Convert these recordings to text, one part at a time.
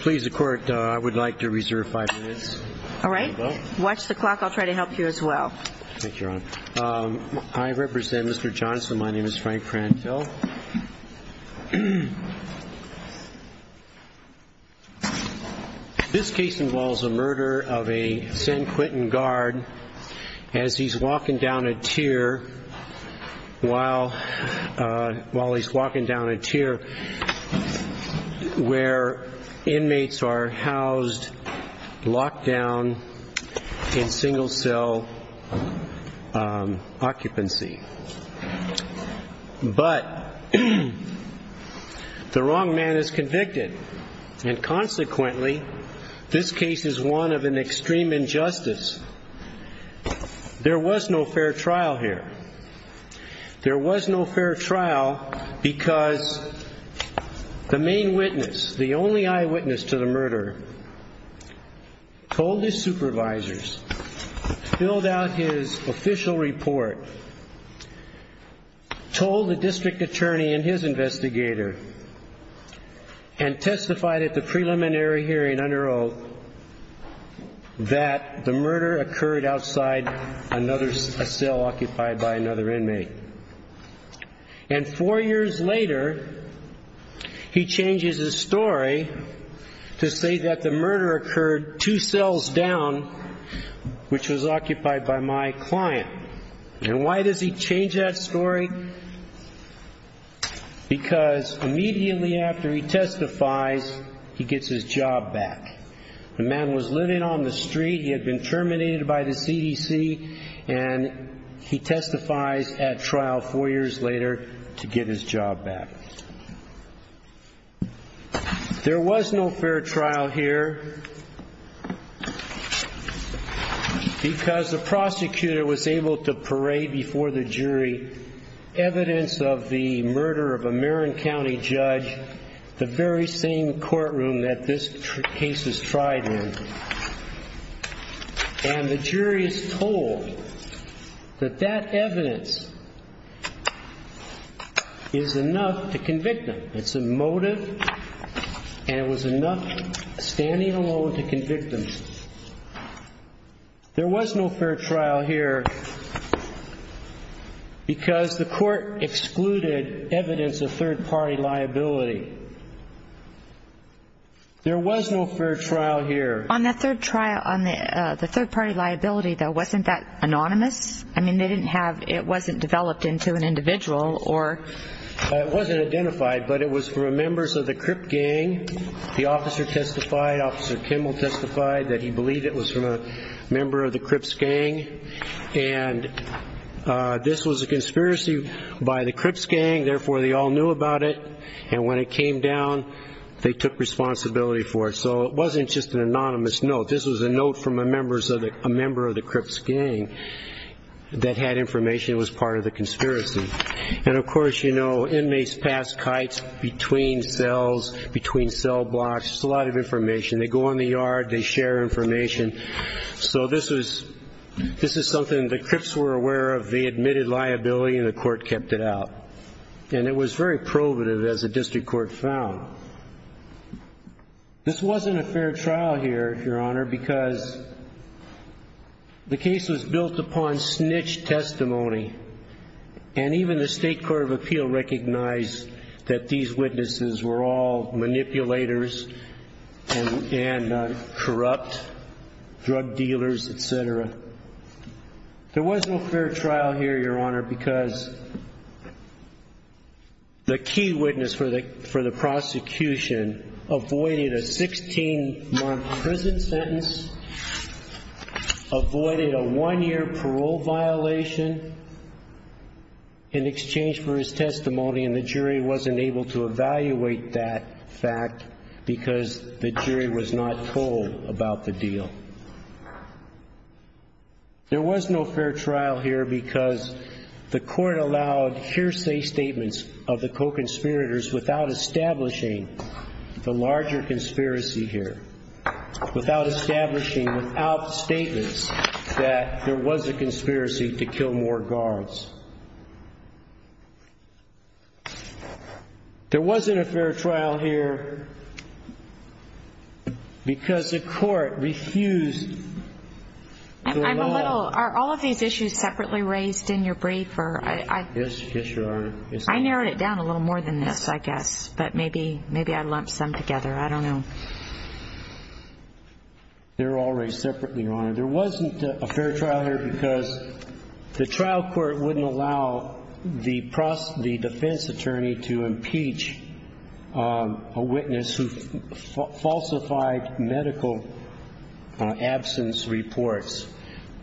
Please, the Court, I would like to reserve five minutes. All right. Watch the clock. I'll try to help you as well. Thank you, Your Honor. I represent Mr. Johnson. My name is Frank Prantill. This case involves a murder of a San Quentin guard as he's walking down a tier while he's walking down a tier where inmates are housed, locked down in single cell occupancy. But the wrong man is convicted and consequently this case is one of an extreme injustice. There was no fair trial here. There was no fair trial because the main witness, the only eyewitness to the murder, told his supervisors, filled out his official report, told the district attorney and his investigator and testified at the preliminary hearing under oath that the murder occurred outside a cell occupied by another inmate. And four years later, he changes his story to say that the murder occurred two cells down, which was occupied by my client. And why does he change that story? Because immediately after he testifies, he gets his job back. The man was living on the street. He had been terminated by the CDC and he testifies at trial four years later to get his job back. There was no fair trial here because the prosecutor was able to parade before the jury evidence of the murder of a Marin County judge, the very same courtroom that this case is tried in. And the jury is told that that evidence is enough to convict them. It's a motive and it was enough standing alone to convict them. There was no fair trial here because the court excluded evidence of third party liability. There was no fair trial here. On the third trial, on the third party liability, though, wasn't that anonymous? I mean, they didn't have, it wasn't developed into an individual or? It wasn't identified, but it was from members of the Crip gang. The officer testified, Officer Kimball testified that he believed it was from a member of the Crips gang. And this was a conspiracy by the Crips gang. Therefore, they all knew about it. And when it came down, they took responsibility for it. So it wasn't just an anonymous note. This was a note from a member of the Crips gang that had information that was part of the conspiracy. And of course, you know, inmates pass kites between cells, between cell blocks. It's a lot of information. They go in the yard, they share information. So this was, this is something the Crips were aware of. They admitted liability and the court kept it out. And it was very probative as the district court found. This wasn't a fair trial here, Your Honor, because the case was built upon snitch testimony. And even the State Court of Appeal recognized that these witnesses were all manipulators and corrupt drug dealers, etc. There was no fair trial here, Your Honor, because the key witness for the prosecution avoided a 16-month prison sentence, avoided a one-year parole violation in exchange for his testimony, and the jury wasn't able to evaluate that fact because the jury was not told about the deal. There was no fair trial here because the court allowed hearsay statements of the co-conspirators without establishing the larger conspiracy here, without establishing, without statements that there was a conspiracy to kill more guards. There wasn't a fair trial here because the court refused the law. I'm a little, are all of these issues separately raised in your brief? Yes, yes, Your Honor. I narrowed it down a little more than this, I guess, but maybe, maybe I lumped some together. I don't know. They're all raised separately, Your Honor. There wasn't a fair trial here because the trial court wouldn't allow the defense attorney to impeach a witness who falsified medical absence reports.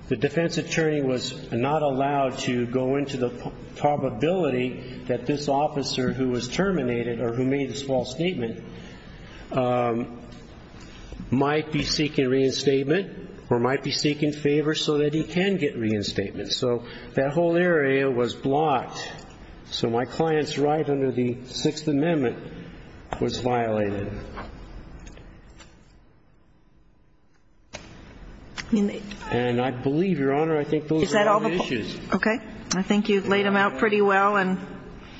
The defense attorney was not allowed to go into the probability that this officer who was terminated or who made this false statement might be seeking reinstatement or might be seeking favor so that he can get reinstatement. So that whole area was blocked. So my client's right under the Sixth Amendment was violated. And I believe, Your Honor, I think those are all the issues. Okay. I think you've laid them out pretty well. And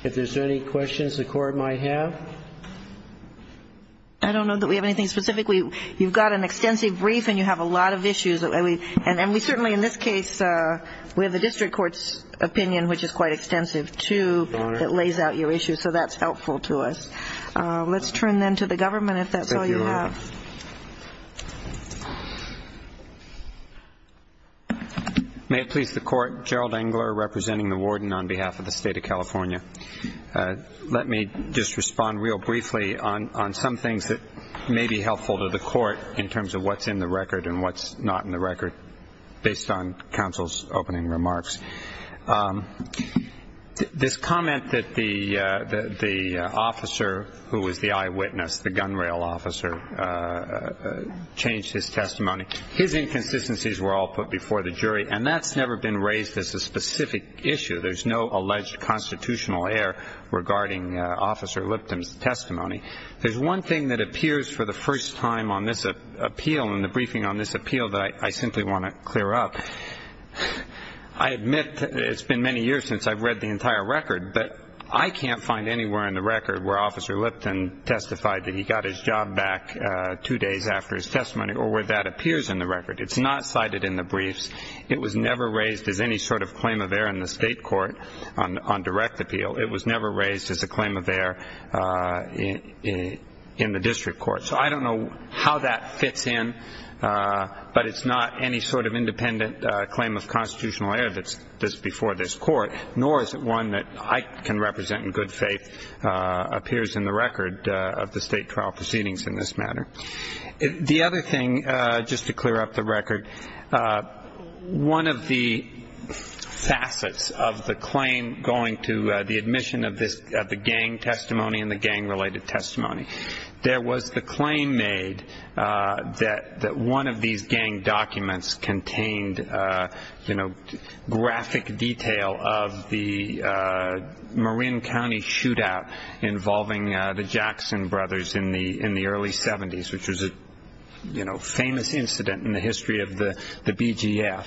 if there's any questions the Court might have? I don't know that we have anything specific. You've got an extensive brief and you have a lot of issues. And we certainly in this case, we have the district court's opinion, which is quite extensive, too, that lays out your issues. So that's helpful to us. Let's turn then to the government, if that's all you have. Thank you, Your Honor. May it please the Court, Gerald Engler, representing the warden on behalf of the State of California. Let me just respond real briefly on some things that may be helpful to the Court in terms of what's in the record and what's not in the record, based on counsel's opening remarks. This comment that the officer who was the eyewitness, the gunrail officer, changed his testimony, his inconsistencies were all put before the jury, and that's never been raised as a specific issue. There's no alleged constitutional error regarding Officer Lipton's testimony. There's one thing that appears for the first time on this appeal, in the briefing on this appeal, that I simply want to clear up. I admit that it's been many years since I've read the entire record, but I can't find anywhere in the record where Officer Lipton testified that he got his job back two days after his testimony or where that appears in the record. It's not cited in the briefs. It was never raised as any sort of claim of error in the state court on direct appeal. It was never raised as a claim of error in the district court. So I don't know how that fits in, but it's not any sort of independent claim of constitutional error that's before this court, nor is it one that I can represent in good faith appears in the record of the state trial proceedings in this matter. The other thing, just to clear up the record, one of the facets of the claim going to the admission of the gang testimony and the gang-related testimony, there was the claim made that one of these gang documents contained graphic detail of the Marin County shootout involving the Jackson brothers in the early 70s, which was a famous incident in the history of the BGF.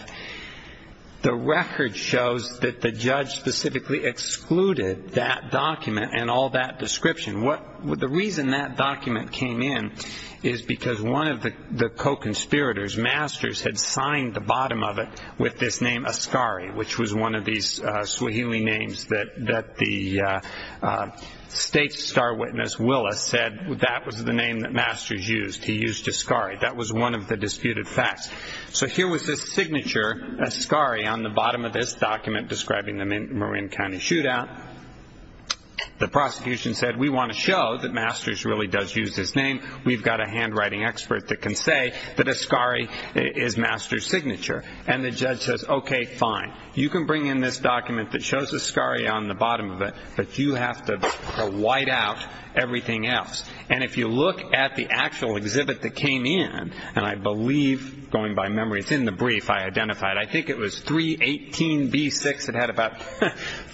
The record shows that the judge specifically excluded that document and all that description. The reason that document came in is because one of the co-conspirators, Masters, had signed the bottom of it with this name, Ascari, which was one of these Swahili names that the state star witness, Willis, said that was the name that Masters used. He used Ascari. That was one of the disputed facts. So here was this signature, Ascari, on the bottom of this document describing the Marin County shootout. The prosecution said, we want to show that Masters really does use this name. We've got a handwriting expert that can say that Ascari is Masters' signature. And the judge says, okay, fine. You can bring in this document that shows Ascari on the bottom of it, but you have to white out everything else. And if you look at the actual exhibit that came in, and I believe, going by memory, it's in the brief I identified, I think it was 318B6. It had about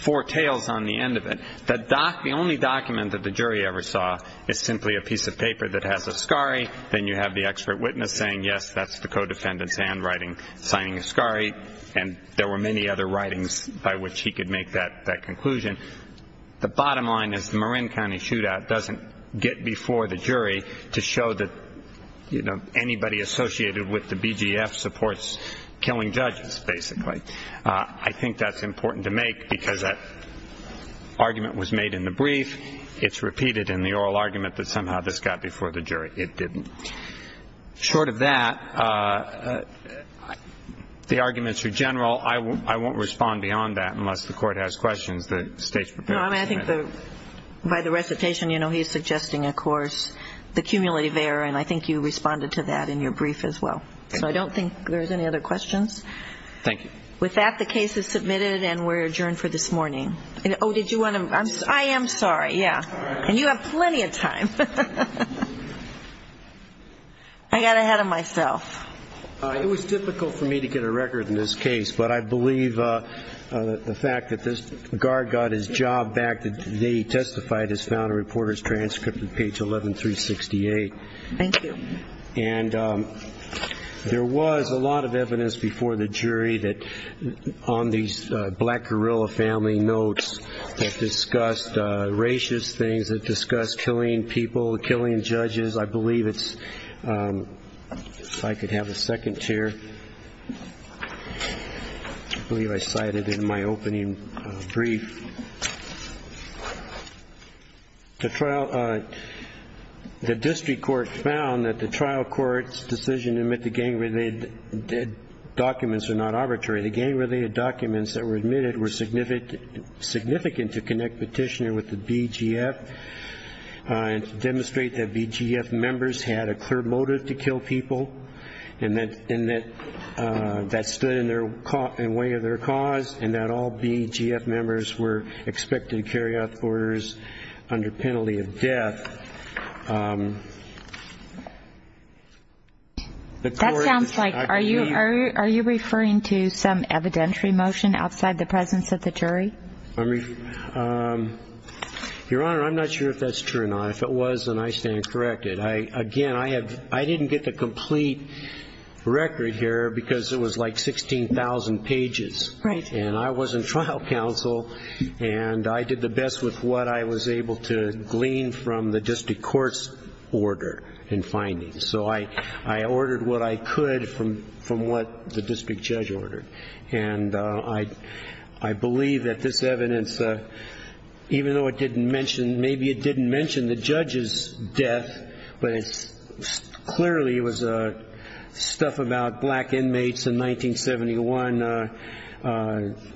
four tails on the end of it. The only document that the jury ever saw is simply a piece of paper that has Ascari. Then you have the expert witness saying, yes, that's the co-defendant's handwriting signing Ascari. And there were many other writings by which he could make that conclusion. The bottom line is the Marin County shootout doesn't get before the jury to show that, you know, I think that's important to make because that argument was made in the brief. It's repeated in the oral argument that somehow this got before the jury. It didn't. Short of that, the arguments are general. I won't respond beyond that unless the Court has questions that the State's prepared to answer. I think by the recitation, you know, he's suggesting, of course, the cumulative error. And I think you responded to that in your brief as well. So I don't think there's any other questions. Thank you. With that, the case is submitted and we're adjourned for this morning. Oh, did you want to? I am sorry, yeah. And you have plenty of time. I got ahead of myself. It was difficult for me to get a record in this case, but I believe the fact that this guard got his job back, that they testified has found a reporter's transcript on page 11368. Thank you. And there was a lot of evidence before the jury that on these black guerrilla family notes that discussed racist things, that discussed killing people, killing judges. I believe it's ‑‑ if I could have a second chair. I believe I cited it in my opening brief. The district court found that the trial court's decision to admit the gang‑related documents are not arbitrary. The gang‑related documents that were admitted were significant to connect Petitioner with the BGF and to demonstrate that BGF members had a clear motive to kill people and that that stood in the way of their cause and that all BGF members were expected to carry out the orders under penalty of death. That sounds like ‑‑ are you referring to some evidentiary motion outside the presence of the jury? Your Honor, I'm not sure if that's true or not. If it was, then I stand corrected. Again, I didn't get the complete record here because it was like 16,000 pages. Right. And I wasn't trial counsel. And I did the best with what I was able to glean from the district court's order and findings. So I ordered what I could from what the district judge ordered. And I believe that this evidence, even though it didn't mention, the judge's death, but it clearly was stuff about black inmates in 1971.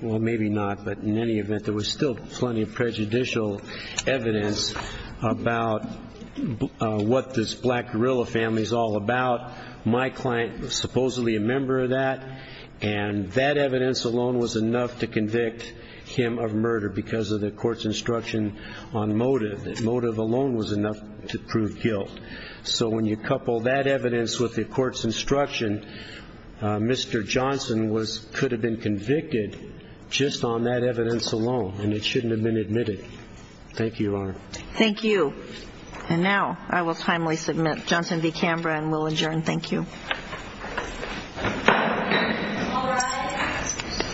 Well, maybe not, but in any event, there was still plenty of prejudicial evidence about what this black guerrilla family is all about. My client was supposedly a member of that. And that evidence alone was enough to convict him of murder because of the court's instruction on motive. Motive alone was enough to prove guilt. So when you couple that evidence with the court's instruction, Mr. Johnson could have been convicted just on that evidence alone, and it shouldn't have been admitted. Thank you, Your Honor. Thank you. And now I will timely submit. Johnson v. Canberra, and we'll adjourn. Thank you. All rise.